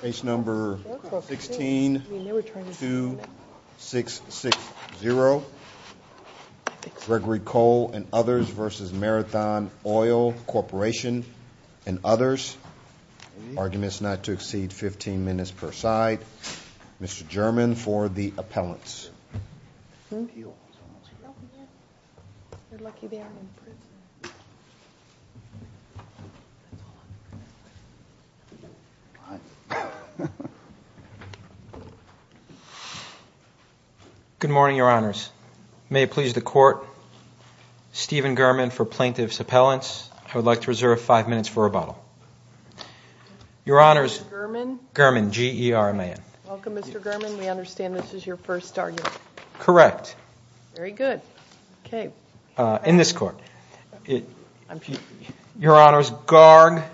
Case number 162660. Gregory Cole and others v. Marathon Oil Corporation and others. Arguments not to exceed 15 minutes per side. Mr. German for the appellants. Good morning, your honors. May it please the court, Steven German for plaintiff's appellants. I would like to reserve five minutes for rebuttal. Your honors, German, G-E-R-M-A-N. Welcome, Mr. German. We understand this is your first argument. Correct. Very good. In this court, your honors, Garg,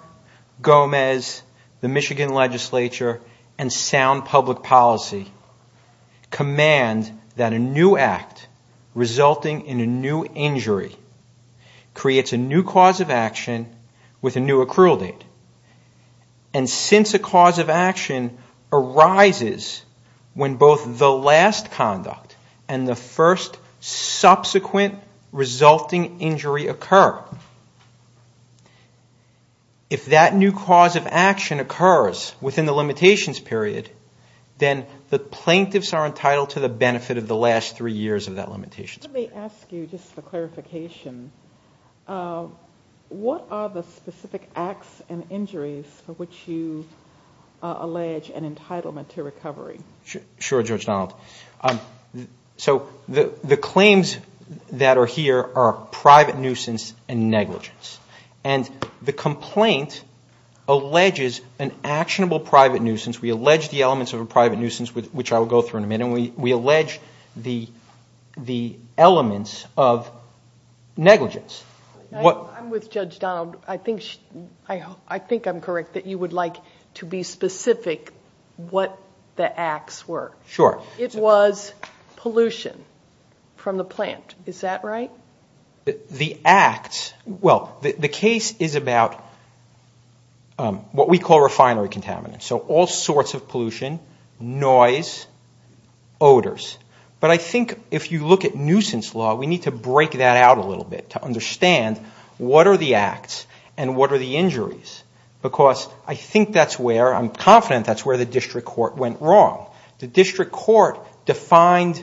Gomez, the Michigan legislature, and sound public policy command that a new act resulting in a new injury creates a new cause of action with a new accrual date. And since a cause of action arises when both the last conduct and the first subsequent resulting injury occur, if that new cause of action occurs within the limitations period, then the plaintiffs are entitled to the benefit of the last three years of that limitations period. Let me ask you, just for clarification, what are the specific acts and injuries for which you allege an entitlement to recovery? Sure, Judge Donald. So the claims that are here are private nuisance and negligence. And the complaint alleges an actionable private nuisance. We allege the elements of a private nuisance, which I will go through in a minute, and we allege the elements of negligence. I'm with Judge Donald. I think I'm correct that you would like to be specific what the acts were. Sure. It was pollution from the plant. Is that right? The acts – well, the case is about what we call refinery contaminants, so all sorts of pollution, noise, odors. But I think if you look at nuisance law, we need to break that out a little bit to understand what are the acts and what are the injuries because I think that's where – I'm confident that's where the district court went wrong. The district court defined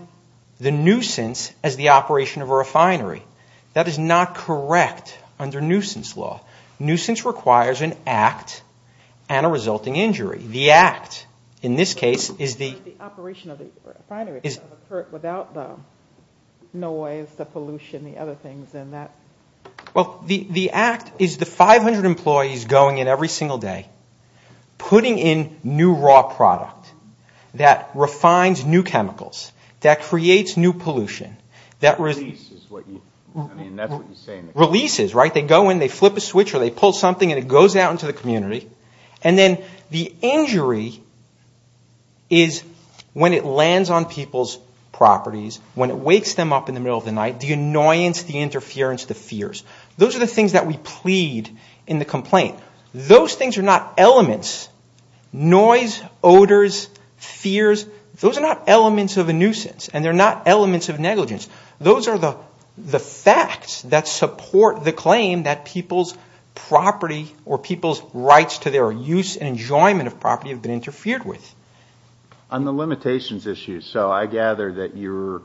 the nuisance as the operation of a refinery. That is not correct under nuisance law. Nuisance requires an act and a resulting injury. The act, in this case, is the – The operation of the refinery without the noise, the pollution, the other things in that – Well, the act is the 500 employees going in every single day, putting in new raw product that refines new chemicals, that creates new pollution, that – Releases is what you – I mean, that's what you're saying. Releases, right? They go in, they flip a switch, or they pull something, and it goes out into the community. And then the injury is when it lands on people's properties, when it wakes them up in the middle of the night, the annoyance, the interference, the fears. Those are the things that we plead in the complaint. Those things are not elements. Noise, odors, fears, those are not elements of a nuisance, and they're not elements of negligence. Those are the facts that support the claim that people's property or people's rights to their use and enjoyment of property have been interfered with. On the limitations issue, so I gather that you're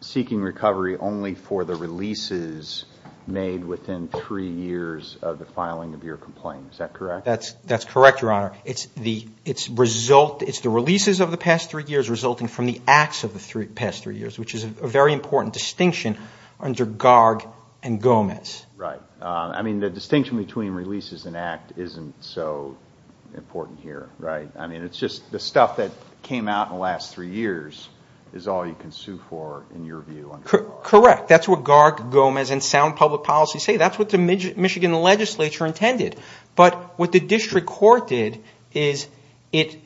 seeking recovery only for the releases made within three years of the filing of your complaint. Is that correct? That's correct, Your Honor. It's the releases of the past three years resulting from the acts of the past three years, which is a very important distinction under Garg and Gomez. Right. I mean, the distinction between releases and act isn't so important here, right? I mean, it's just the stuff that came out in the last three years is all you can sue for in your view under Garg. Correct. That's what Garg, Gomez, and sound public policy say. That's what the Michigan legislature intended. But what the district court did is it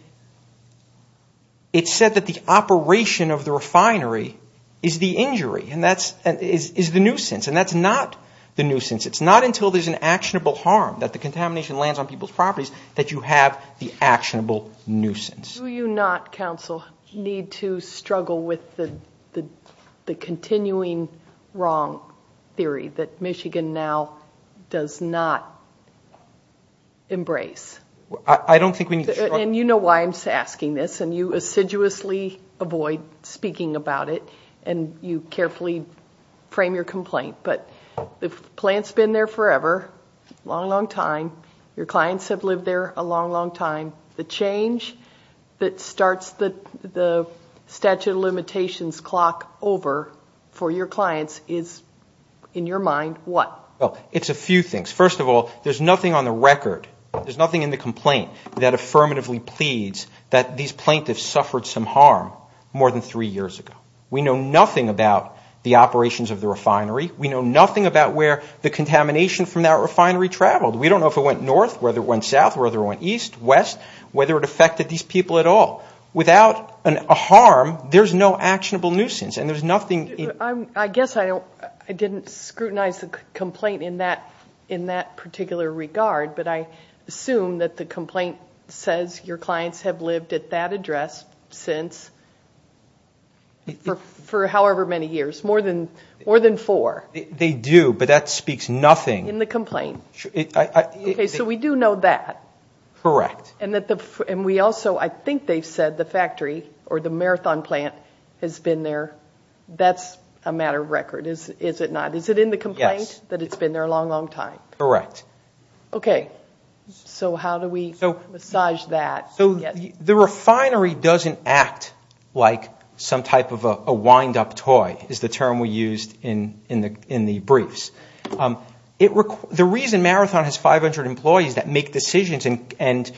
said that the operation of the refinery is the injury, is the nuisance, and that's not the nuisance. It's not until there's an actionable harm, that the contamination lands on people's properties, that you have the actionable nuisance. Do you not, counsel, need to struggle with the continuing wrong theory that Michigan now does not embrace? I don't think we need to struggle. And you know why I'm asking this, and you assiduously avoid speaking about it, and you carefully frame your complaint. But the plant's been there forever, long, long time. Your clients have lived there a long, long time. The change that starts the statute of limitations clock over for your clients is, in your mind, what? Well, it's a few things. First of all, there's nothing on the record, there's nothing in the complaint that affirmatively pleads that these plaintiffs suffered some harm more than three years ago. We know nothing about the operations of the refinery. We know nothing about where the contamination from that refinery traveled. We don't know if it went north, whether it went south, whether it went east, west, whether it affected these people at all. Without a harm, there's no actionable nuisance, and there's nothing in it. I guess I didn't scrutinize the complaint in that particular regard, but I assume that the complaint says your clients have lived at that address since, for however many years, more than four. They do, but that speaks nothing. In the complaint. Okay, so we do know that. Correct. And we also, I think they've said the factory or the marathon plant has been there. That's a matter of record, is it not? Is it in the complaint that it's been there a long, long time? Correct. Okay, so how do we massage that? So the refinery doesn't act like some type of a wind-up toy, is the term we used in the briefs. The reason Marathon has 500 employees that make decisions and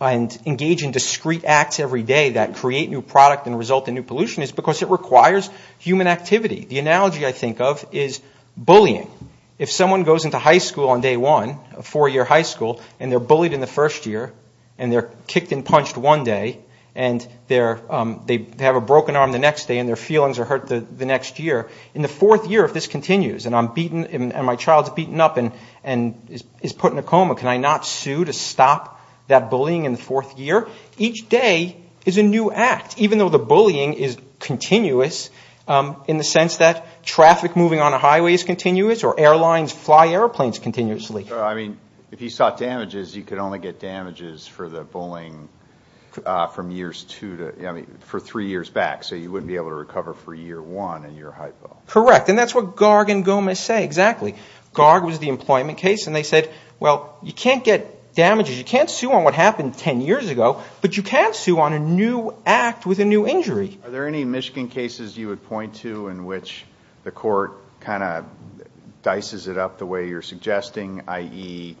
engage in discrete acts every day that create new product and result in new pollution is because it requires human activity. The analogy I think of is bullying. If someone goes into high school on day one, a four-year high school, and they're bullied in the first year, and they're kicked and punched one day, and they have a broken arm the next day, and their feelings are hurt the next year, in the fourth year, if this continues, and I'm beaten and my child's beaten up and is put in a coma, can I not sue to stop that bullying in the fourth year? Each day is a new act, even though the bullying is continuous in the sense that traffic moving on a highway is continuous or airlines fly airplanes continuously. So, I mean, if you sought damages, you could only get damages for the bullying from years two to, I mean, for three years back, so you wouldn't be able to recover for year one in your high school. Correct, and that's what Garg and Gomez say, exactly. Garg was the employment case, and they said, well, you can't get damages, you can't sue on what happened ten years ago, but you can sue on a new act with a new injury. Are there any Michigan cases you would point to in which the court kind of dices it up the way you're suggesting, i.e.,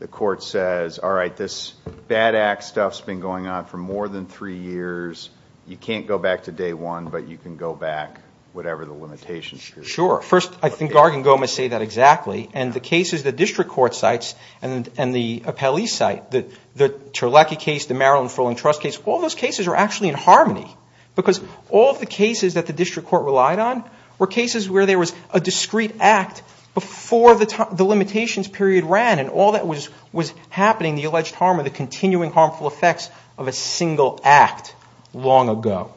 the court says, all right, this bad act stuff's been going on for more than three years, you can't go back to day one, but you can go back whatever the limitation period is? Sure. First, I think Garg and Gomez say that exactly, and the cases the district court cites and the appellee cite, the Terlecki case, the Maryland Fulling Trust case, all those cases are actually in harmony, because all of the cases that the district court relied on were cases where there was a discrete act before the limitations period ran, and all that was happening, the alleged harm or the continuing harmful effects of a single act long ago,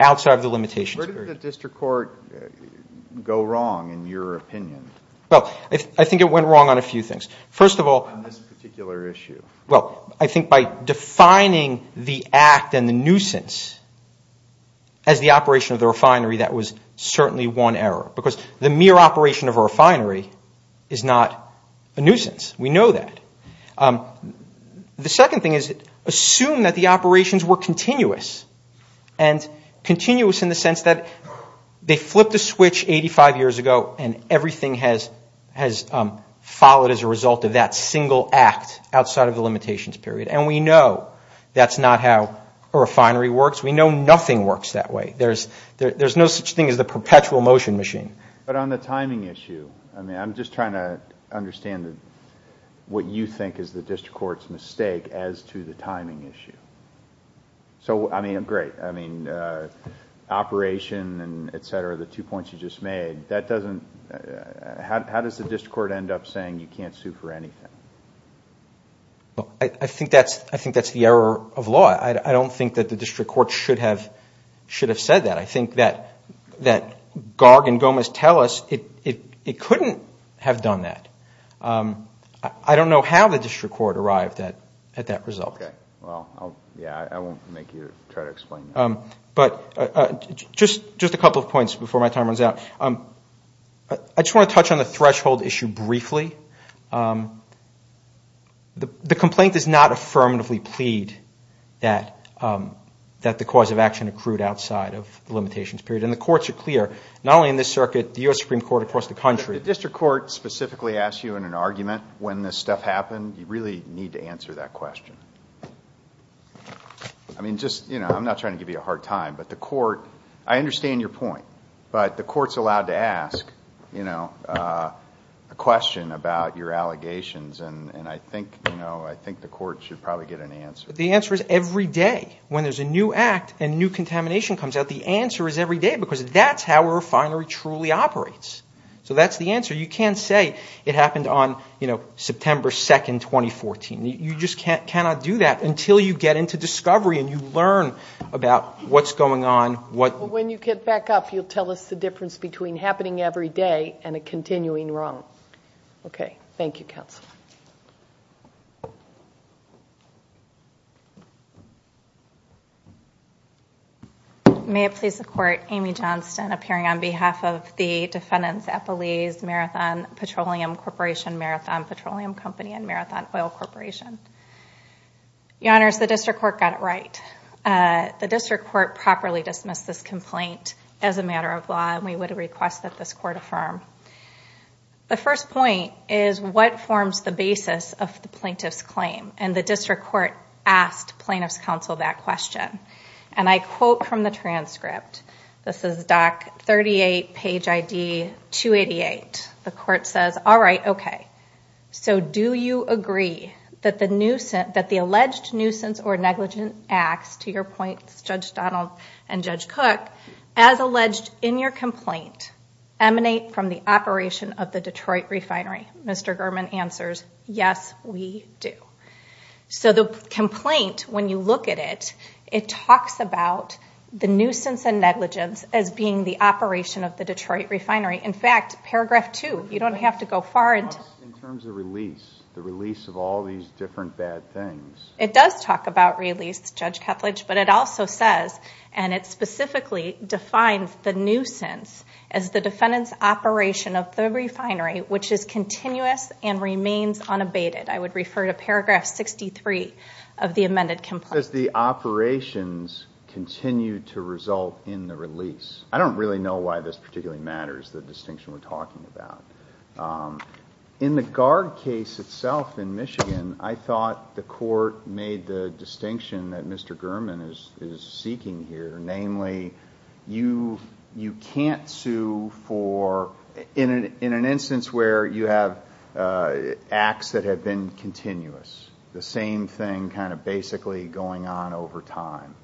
outside of the limitations period. Where did the district court go wrong, in your opinion? Well, I think it went wrong on a few things. First of all, On this particular issue. Well, I think by defining the act and the nuisance as the operation of the refinery, that was certainly one error, because the mere operation of a refinery is not a nuisance. We know that. The second thing is assume that the operations were continuous, and continuous in the sense that they flipped a switch 85 years ago and everything has followed as a result of that single act outside of the limitations period, and we know that's not how a refinery works. We know nothing works that way. There's no such thing as the perpetual motion machine. But on the timing issue, I mean, I'm just trying to understand what you think is the district court's mistake as to the timing issue. So, I mean, great, I mean, operation and et cetera, the two points you just made, that doesn't, how does the district court end up saying you can't sue for anything? I think that's the error of law. I don't think that the district court should have said that. I think that Garg and Gomez tell us it couldn't have done that. I don't know how the district court arrived at that result. Okay, well, yeah, I won't make you try to explain that. But just a couple of points before my time runs out. I just want to touch on the threshold issue briefly. The complaint does not affirmatively plead that the cause of action accrued outside of the limitations period. And the courts are clear, not only in this circuit, the U.S. Supreme Court across the country. The district court specifically asks you in an argument when this stuff happened, you really need to answer that question. I mean, just, you know, I'm not trying to give you a hard time, but the court, I understand your point, but the court's allowed to ask, you know, a question about your allegations. And I think, you know, I think the court should probably get an answer. The answer is every day. When there's a new act and new contamination comes out, the answer is every day because that's how a refinery truly operates. So that's the answer. You can't say it happened on, you know, September 2nd, 2014. You just cannot do that until you get into discovery and you learn about what's going on. Well, when you get back up, you'll tell us the difference between happening every day and a continuing wrong. Okay. Thank you, counsel. May it please the court, Amy Johnston, appearing on behalf of the defendants, Epoly's Marathon Petroleum Corporation, Marathon Petroleum Company, and Marathon Oil Corporation. Your Honors, the district court got it right. The district court properly dismissed this complaint as a matter of law, and we would request that this court affirm. The first point is what forms the basis of the plaintiff's claim? And the district court asked plaintiff's counsel that question. And I quote from the transcript. This is Doc 38, page ID 288. The court says, all right, okay. So do you agree that the alleged nuisance or negligent acts, to your points, Judge Donald and Judge Cook, as alleged in your complaint emanate from the operation of the Detroit refinery? Mr. Gurman answers, yes, we do. So the complaint, when you look at it, it talks about the nuisance and negligence as being the operation of the Detroit refinery. In fact, paragraph 2, you don't have to go far. It talks in terms of release, the release of all these different bad things. It does talk about release, Judge Ketledge, but it also says, and it specifically defines the nuisance as the defendant's operation of the refinery, which is continuous and remains unabated. I would refer to paragraph 63 of the amended complaint. Does the operations continue to result in the release? I don't really know why this particularly matters, the distinction we're talking about. In the guard case itself in Michigan, I thought the court made the distinction that Mr. Gurman is seeking here, namely you can't sue for, in an instance where you have acts that have been continuous, the same thing kind of basically going on over time.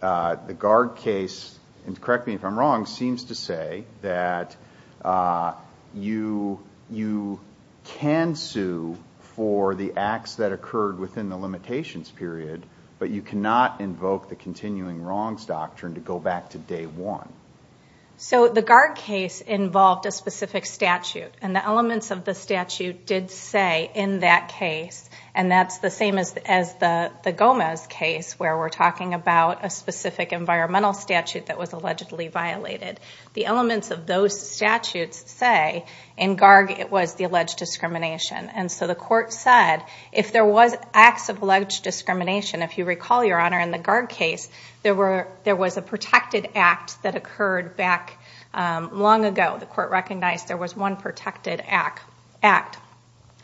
The guard case, and correct me if I'm wrong, seems to say that you can sue for the acts that occurred within the limitations period, but you cannot invoke the continuing wrongs doctrine to go back to day one. So the guard case involved a specific statute, and the elements of the statute did say in that case, and that's the same as the Gomez case where we're talking about a specific environmental statute that was allegedly violated. The elements of those statutes say in GARG it was the alleged discrimination, and so the court said if there was acts of alleged discrimination, if you recall, Your Honor, in the GARG case, there was a protected act that occurred back long ago. The court recognized there was one protected act.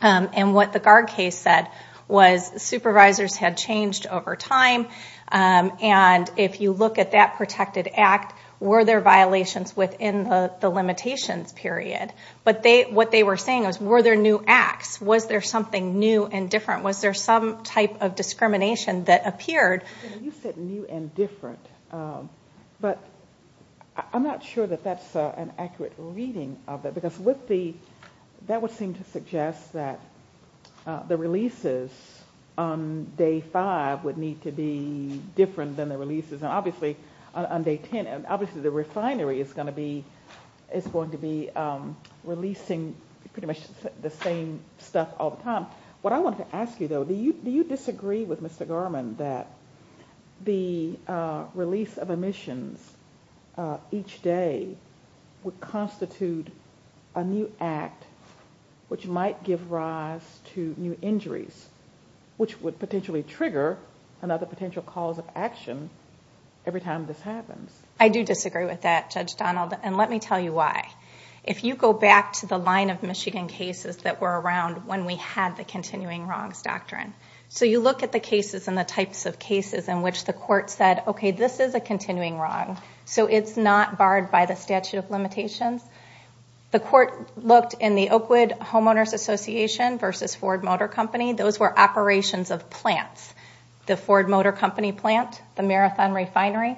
And what the GARG case said was supervisors had changed over time, and if you look at that protected act, were there violations within the limitations period? But what they were saying was were there new acts? Was there something new and different? Was there some type of discrimination that appeared? You said new and different, but I'm not sure that that's an accurate reading of it, because that would seem to suggest that the releases on day five would need to be different than the releases on day ten, and obviously the refinery is going to be releasing pretty much the same stuff all the time. What I wanted to ask you, though, do you disagree with Mr. Garmon that the release of emissions each day would constitute a new act which might give rise to new injuries, which would potentially trigger another potential cause of action every time this happens? I do disagree with that, Judge Donald, and let me tell you why. If you go back to the line of Michigan cases that were around when we had the continuing wrongs doctrine, so you look at the cases and the types of cases in which the court said, okay, this is a continuing wrong, so it's not barred by the statute of limitations. The court looked in the Oakwood Homeowners Association versus Ford Motor Company. Those were operations of plants, the Ford Motor Company plant, the Marathon refinery,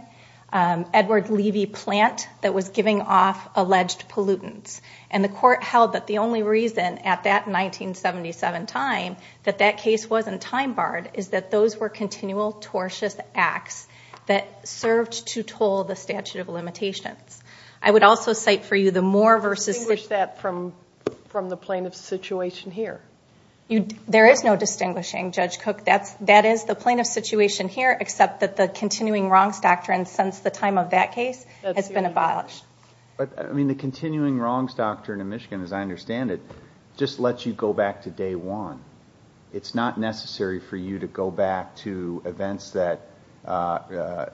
Edward Levy plant that was giving off alleged pollutants, and the court held that the only reason at that 1977 time that that case wasn't time-barred is that those were continual tortious acts that served to toll the statute of limitations. I would also cite for you the Moore versus— Distinguish that from the plaintiff's situation here. There is no distinguishing, Judge Cook. That is the plaintiff's situation here except that the continuing wrongs doctrine since the time of that case has been abolished. The continuing wrongs doctrine in Michigan, as I understand it, just lets you go back to day one. It's not necessary for you to go back to events that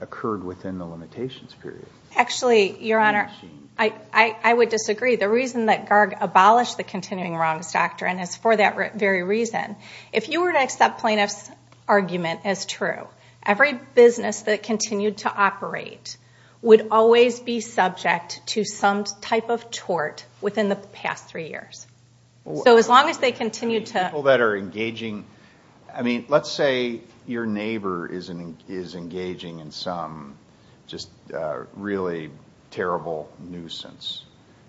occurred within the limitations period. Actually, Your Honor, I would disagree. The reason that GARG abolished the continuing wrongs doctrine is for that very reason. If you were to accept plaintiff's argument as true, every business that continued to operate would always be subject to some type of tort within the past three years. So as long as they continue to— People that are engaging—I mean, let's say your neighbor is engaging in some just really terrible nuisance.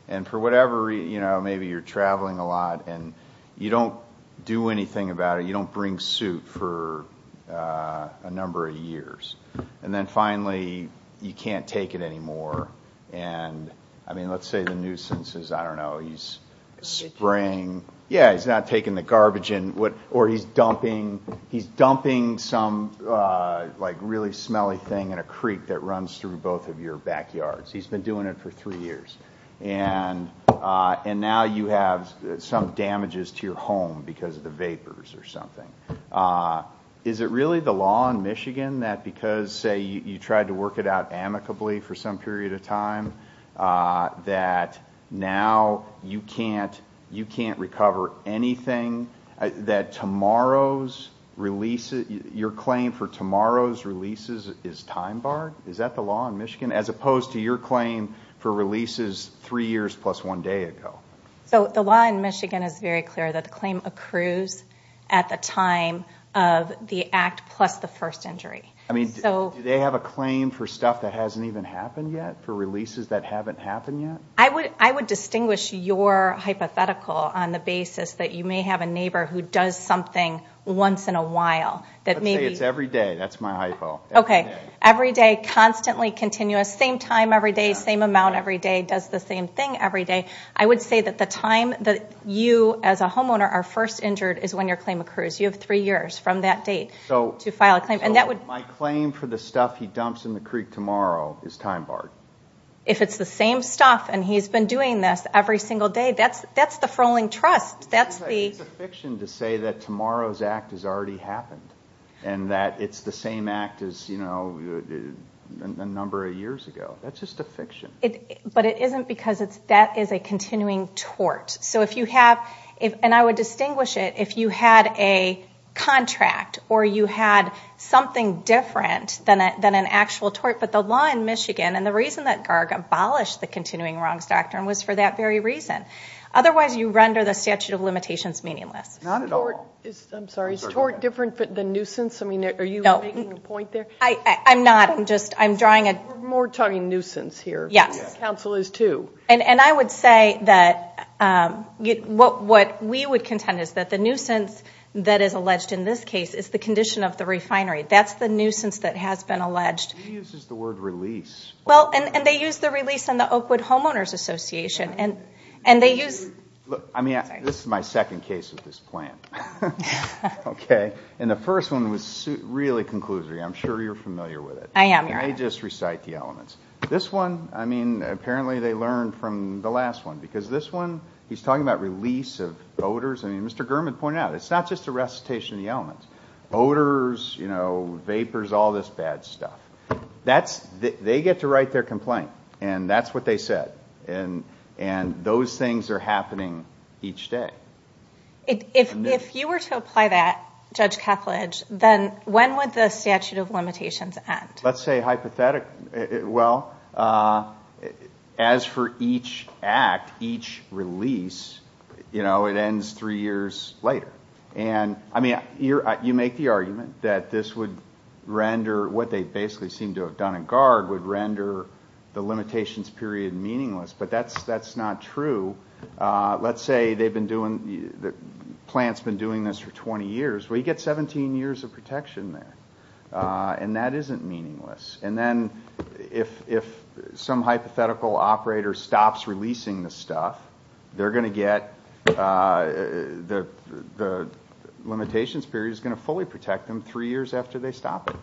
And for whatever reason, maybe you're traveling a lot and you don't do anything about it. You don't bring suit for a number of years. And then finally, you can't take it anymore. And, I mean, let's say the nuisance is, I don't know, he's spraying— Ditching. Yeah, he's not taking the garbage in. Or he's dumping some really smelly thing in a creek that runs through both of your backyards. He's been doing it for three years. And now you have some damages to your home because of the vapors or something. Is it really the law in Michigan that because, say, you tried to work it out amicably for some period of time, that now you can't recover anything that tomorrow's release— your claim for tomorrow's releases is time barred? Is that the law in Michigan? As opposed to your claim for releases three years plus one day ago. So the law in Michigan is very clear that the claim accrues at the time of the act plus the first injury. I mean, do they have a claim for stuff that hasn't even happened yet? For releases that haven't happened yet? I would distinguish your hypothetical on the basis that you may have a neighbor who does something once in a while. Let's say it's every day. That's my hypo. Okay, every day, constantly continuous, same time every day, same amount every day, does the same thing every day. I would say that the time that you as a homeowner are first injured is when your claim accrues. You have three years from that date to file a claim. So my claim for the stuff he dumps in the creek tomorrow is time barred? If it's the same stuff and he's been doing this every single day, that's the frolling trust. It's a fiction to say that tomorrow's act has already happened and that it's the same act as a number of years ago. That's just a fiction. But it isn't because that is a continuing tort. And I would distinguish it if you had a contract or you had something different than an actual tort. But the law in Michigan and the reason that Garg abolished the continuing wrongs doctrine was for that very reason. Otherwise, you render the statute of limitations meaningless. Not at all. I'm sorry, is tort different than nuisance? I mean, are you making a point there? I'm not. I'm just drawing a – We're more talking nuisance here. Yes. Council is too. And I would say that what we would contend is that the nuisance that is alleged in this case is the condition of the refinery. That's the nuisance that has been alleged. He uses the word release. Well, and they use the release in the Oakwood Homeowners Association. And they use – Look, I mean, this is my second case of this plant. Okay? And the first one was really conclusive. I'm sure you're familiar with it. I am. And they just recite the elements. This one, I mean, apparently they learned from the last one because this one, he's talking about release of odors. I mean, Mr. Gurman pointed out it's not just a recitation of the elements. Odors, you know, vapors, all this bad stuff. They get to write their complaint and that's what they said. And those things are happening each day. If you were to apply that, Judge Kethledge, then when would the statute of limitations end? Let's say hypothetically. Well, as for each act, each release, you know, it ends three years later. And, I mean, you make the argument that this would render what they basically seem to have done in guard would render the limitations period meaningless. But that's not true. Let's say they've been doing, the plant's been doing this for 20 years. Well, you get 17 years of protection there. And that isn't meaningless. And then if some hypothetical operator stops releasing the stuff, they're going to get, the limitations period is going to fully protect them three years after they stop it.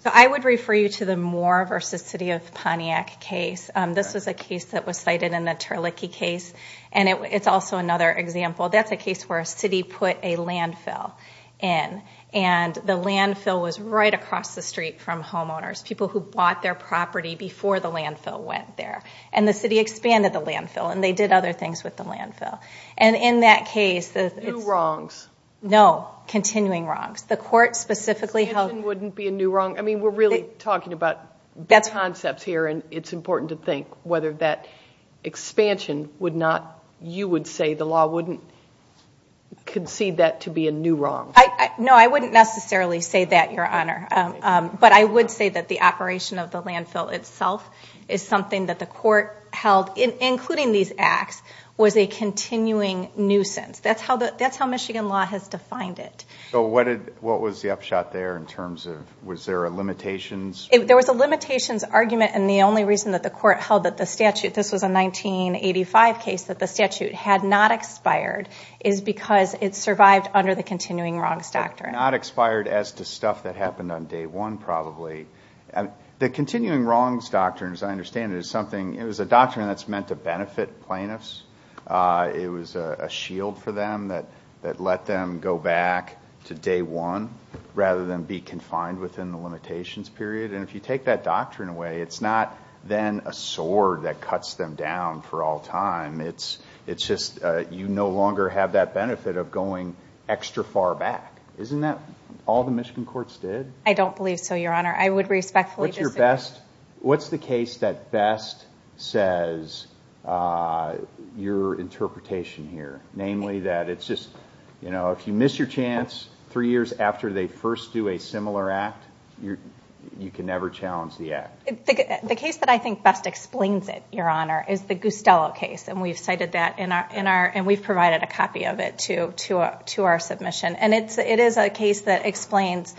So I would refer you to the Moore v. City of Pontiac case. This was a case that was cited in the Terlicky case. And it's also another example. That's a case where a city put a landfill in. And the landfill was right across the street from homeowners, people who bought their property before the landfill went there. And the city expanded the landfill. And they did other things with the landfill. And in that case, it's- New wrongs. No, continuing wrongs. The court specifically held- Expansion wouldn't be a new wrong. I mean, we're really talking about concepts here. And it's important to think whether that expansion would not, you would say the law wouldn't concede that to be a new wrong. No, I wouldn't necessarily say that, Your Honor. But I would say that the operation of the landfill itself is something that the court held, including these acts, was a continuing nuisance. That's how Michigan law has defined it. So what was the upshot there in terms of, was there a limitations? There was a limitations argument. And the only reason that the court held that the statute, this was a 1985 case that the statute had not expired, is because it survived under the continuing wrongs doctrine. Not expired as to stuff that happened on day one, probably. The continuing wrongs doctrine, as I understand it, is something, it was a doctrine that's meant to benefit plaintiffs. It was a shield for them that let them go back to day one, rather than be confined within the limitations period. And if you take that doctrine away, it's not then a sword that cuts them down for all time. It's just you no longer have that benefit of going extra far back. Isn't that all the Michigan courts did? I don't believe so, Your Honor. I would respectfully disagree. What's the case that best says your interpretation here? Namely that it's just, you know, if you miss your chance three years after they first do a similar act, you can never challenge the act. The case that I think best explains it, Your Honor, is the Gustello case. And we've cited that in our, and we've provided a copy of it to our submission. And it is a case that explains,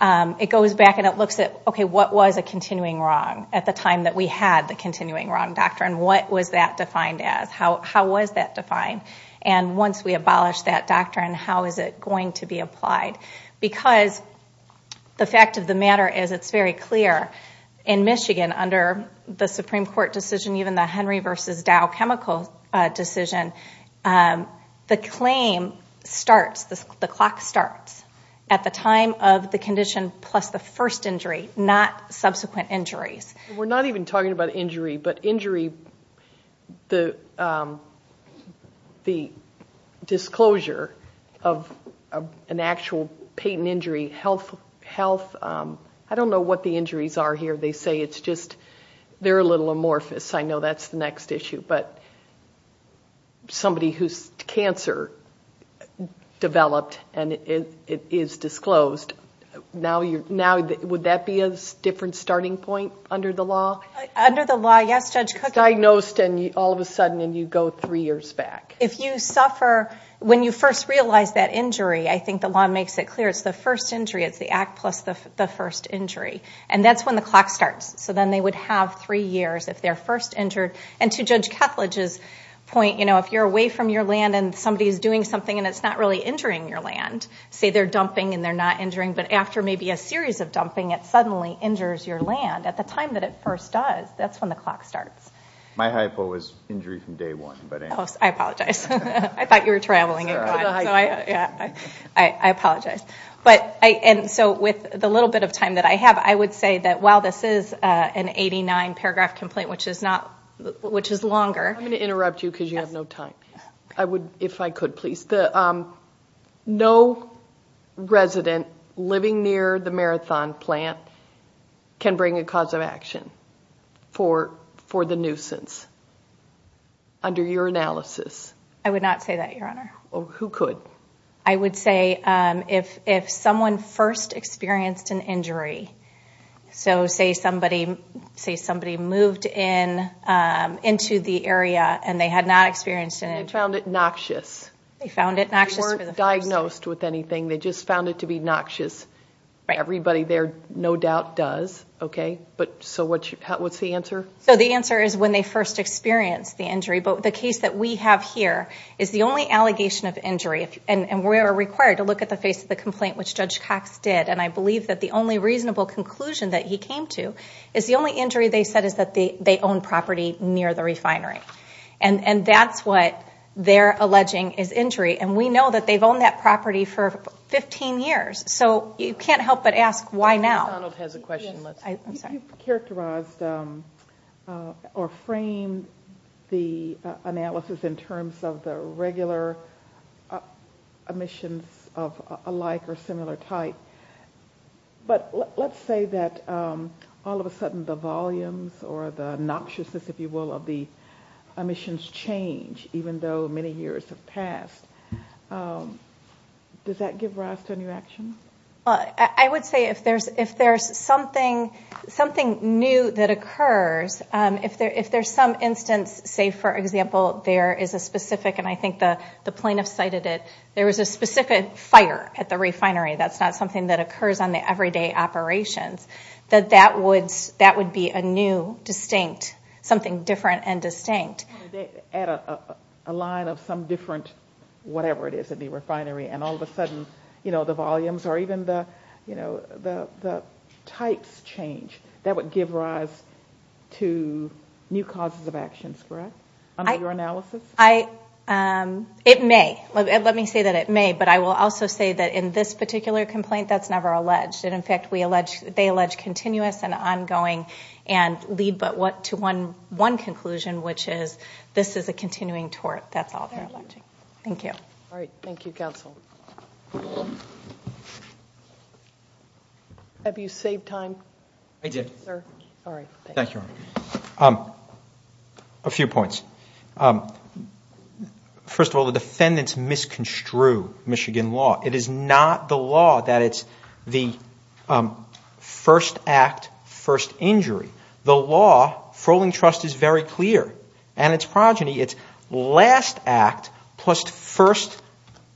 it goes back and it looks at, okay, what was a continuing wrong at the time that we had the continuing wrong doctrine? What was that defined as? How was that defined? And once we abolish that doctrine, how is it going to be applied? Because the fact of the matter is it's very clear in Michigan, under the Supreme Court decision, even the Henry v. Dow chemical decision, the claim starts, the clock starts, at the time of the condition plus the first injury, not subsequent injuries. We're not even talking about injury. But injury, the disclosure of an actual patent injury, health, I don't know what the injuries are here. They say it's just they're a little amorphous. I know that's the next issue. But somebody whose cancer developed and it is disclosed, now would that be a different starting point under the law? Under the law, yes, Judge Cook. Diagnosed and all of a sudden you go three years back. If you suffer, when you first realize that injury, I think the law makes it clear, it's the first injury, it's the act plus the first injury. And that's when the clock starts. So then they would have three years if they're first injured. And to Judge Ketledge's point, if you're away from your land and somebody's doing something and it's not really injuring your land, say they're dumping and they're not injuring, but after maybe a series of dumping it suddenly injures your land, at the time that it first does, that's when the clock starts. My hypo was injury from day one. I apologize. I thought you were traveling. I apologize. And so with the little bit of time that I have, I would say that while this is an 89 paragraph complaint, which is longer. I'm going to interrupt you because you have no time. If I could, please. No resident living near the Marathon plant can bring a cause of action for the nuisance. Under your analysis. I would not say that, Your Honor. Who could? I would say if someone first experienced an injury, so say somebody moved into the area and they had not experienced an injury. And they found it noxious. They found it noxious. They weren't diagnosed with anything. They just found it to be noxious. Everybody there, no doubt, does. Okay. So what's the answer? So the answer is when they first experienced the injury. But the case that we have here is the only allegation of injury, and we are required to look at the face of the complaint, which Judge Cox did. And I believe that the only reasonable conclusion that he came to is the only injury they said is that they own property near the refinery. And that's what they're alleging is injury. And we know that they've owned that property for 15 years. So you can't help but ask why now. Judge McDonald has a question. I'm sorry. You've characterized or framed the analysis in terms of the regular omissions of a like or similar type. But let's say that all of a sudden the volumes or the noxiousness, if you will, of the omissions change, even though many years have passed. Does that give rise to a new action? I would say if there's something new that occurs, if there's some instance, say, for example, there is a specific, and I think the plaintiff cited it, there was a specific fire at the refinery, that's not something that occurs on the everyday operations, that that would be a new, distinct, something different and distinct. Add a line of some different whatever it is at the refinery, and all of a sudden the volumes or even the types change. That would give rise to new causes of actions, correct, under your analysis? It may. Let me say that it may. But I will also say that in this particular complaint, that's never alleged. And, in fact, they allege continuous and ongoing and lead to one conclusion, which is this is a continuing tort. That's all they're alleging. Thank you. All right. Thank you, counsel. Have you saved time? I did. All right. Thank you. A few points. First of all, the defendants misconstrued Michigan law. It is not the law that it's the first act, first injury. The law, Froling Trust is very clear, and its progeny, it's last act plus first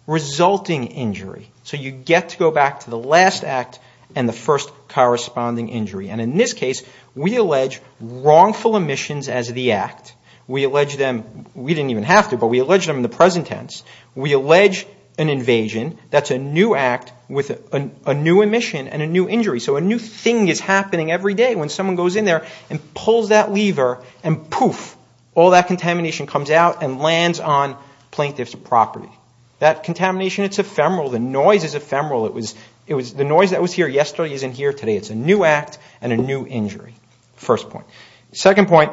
resulting injury. So you get to go back to the last act and the first corresponding injury. And, in this case, we allege wrongful omissions as the act. We allege them. We didn't even have to, but we allege them in the present tense. We allege an invasion. That's a new act with a new omission and a new injury. So a new thing is happening every day when someone goes in there and pulls that lever, and poof, all that contamination comes out and lands on plaintiff's property. That contamination, it's ephemeral. The noise is ephemeral. The noise that was here yesterday isn't here today. It's a new act and a new injury, first point. Second point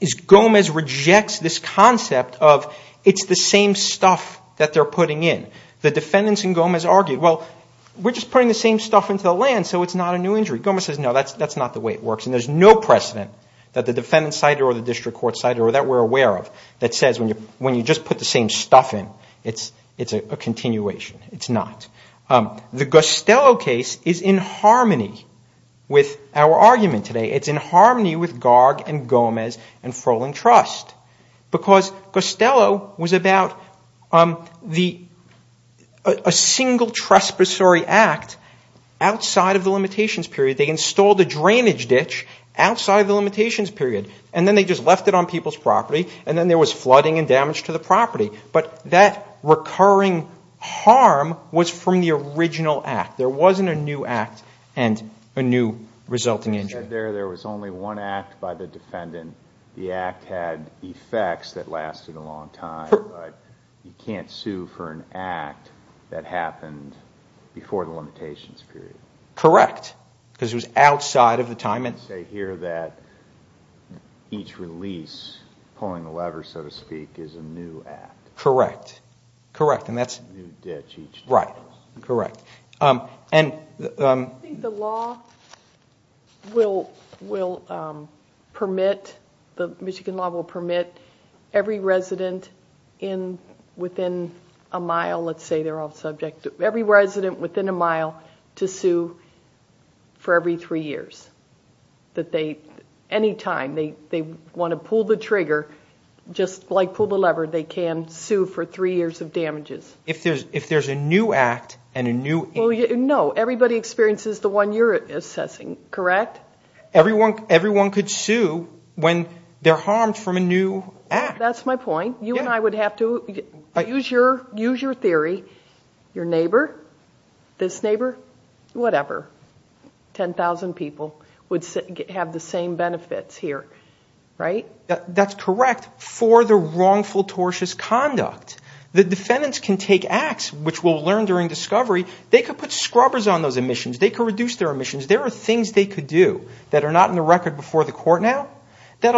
is Gomez rejects this concept of it's the same stuff that they're putting in. The defendants and Gomez argue, well, we're just putting the same stuff into the land, so it's not a new injury. Gomez says, no, that's not the way it works. And there's no precedent that the defendant cited or the district court cited or that we're aware of that says when you just put the same stuff in, it's a continuation. It's not. The Costello case is in harmony with our argument today. It's in harmony with Garg and Gomez and Frolin Trust, because Costello was about a single trespassory act outside of the limitations period. They installed a drainage ditch outside of the limitations period, and then they just left it on people's property, and then there was flooding and damage to the property. But that recurring harm was from the original act. There wasn't a new act and a new resulting injury. There was only one act by the defendant. The act had effects that lasted a long time, but you can't sue for an act that happened before the limitations period. Correct. Because it was outside of the time limit. I didn't say here that each release, pulling the lever, so to speak, is a new act. Correct. Correct. And that's a new ditch each time. Right. Correct. I think the law will permit, the Michigan law will permit every resident within a mile, let's say they're off subject, every resident within a mile to sue for every three years. Anytime they want to pull the trigger, just like pull the lever, they can sue for three years of damages. If there's a new act and a new injury. No, everybody experiences the one you're assessing, correct? Everyone could sue when they're harmed from a new act. That's my point. You and I would have to use your theory. Your neighbor, this neighbor, whatever, 10,000 people would have the same benefits here. Right? That's correct for the wrongful tortious conduct. The defendants can take acts which we'll learn during discovery. They could put scrubbers on those emissions. They could reduce their emissions. There are things they could do that are not in the record before the court now that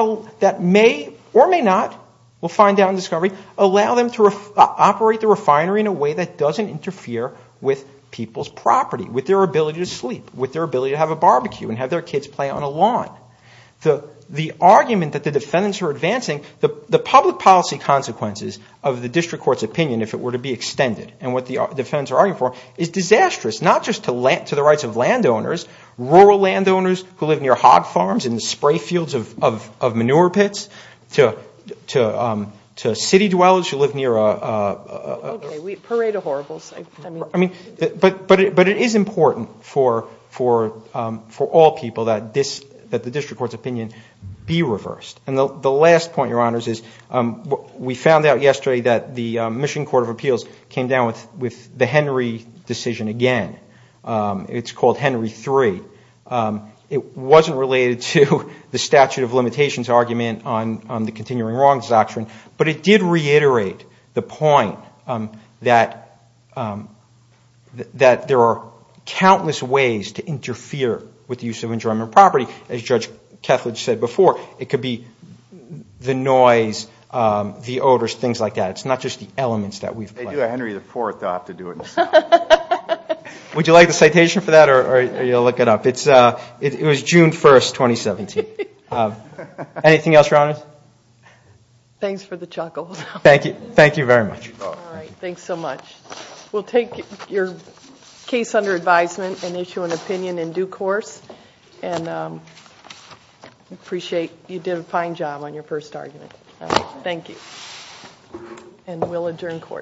may or may not, we'll find out in discovery, allow them to operate the refinery in a way that doesn't interfere with people's property, with their ability to sleep, with their ability to have a barbecue and have their kids play on a lawn. The argument that the defendants are advancing, the public policy consequences of the district court's opinion, if it were to be extended, and what the defendants are arguing for, is disastrous, not just to the rights of landowners, rural landowners who live near hog farms and the spray fields of manure pits, to city dwellers who live near a... Okay. Parade of horribles. But it is important for all people that the district court's opinion be reversed. And the last point, Your Honors, is we found out yesterday that the Michigan Court of Appeals came down with the Henry decision again. It's called Henry III. It wasn't related to the statute of limitations argument on the continuing wrongs doctrine, but it did reiterate the point that there are countless ways to interfere with the use of enjoyment property. As Judge Kethledge said before, it could be the noise, the odors, things like that. It's not just the elements that we've... They do a Henry IV, they'll have to do it themselves. Would you like the citation for that, or are you going to look it up? It was June 1, 2017. Anything else, Your Honors? Thanks for the chuckle. Thank you. Thank you very much. All right. Thanks so much. We'll take your case under advisement and issue an opinion in due course. And we appreciate you did a fine job on your first argument. Thank you. And we'll adjourn court.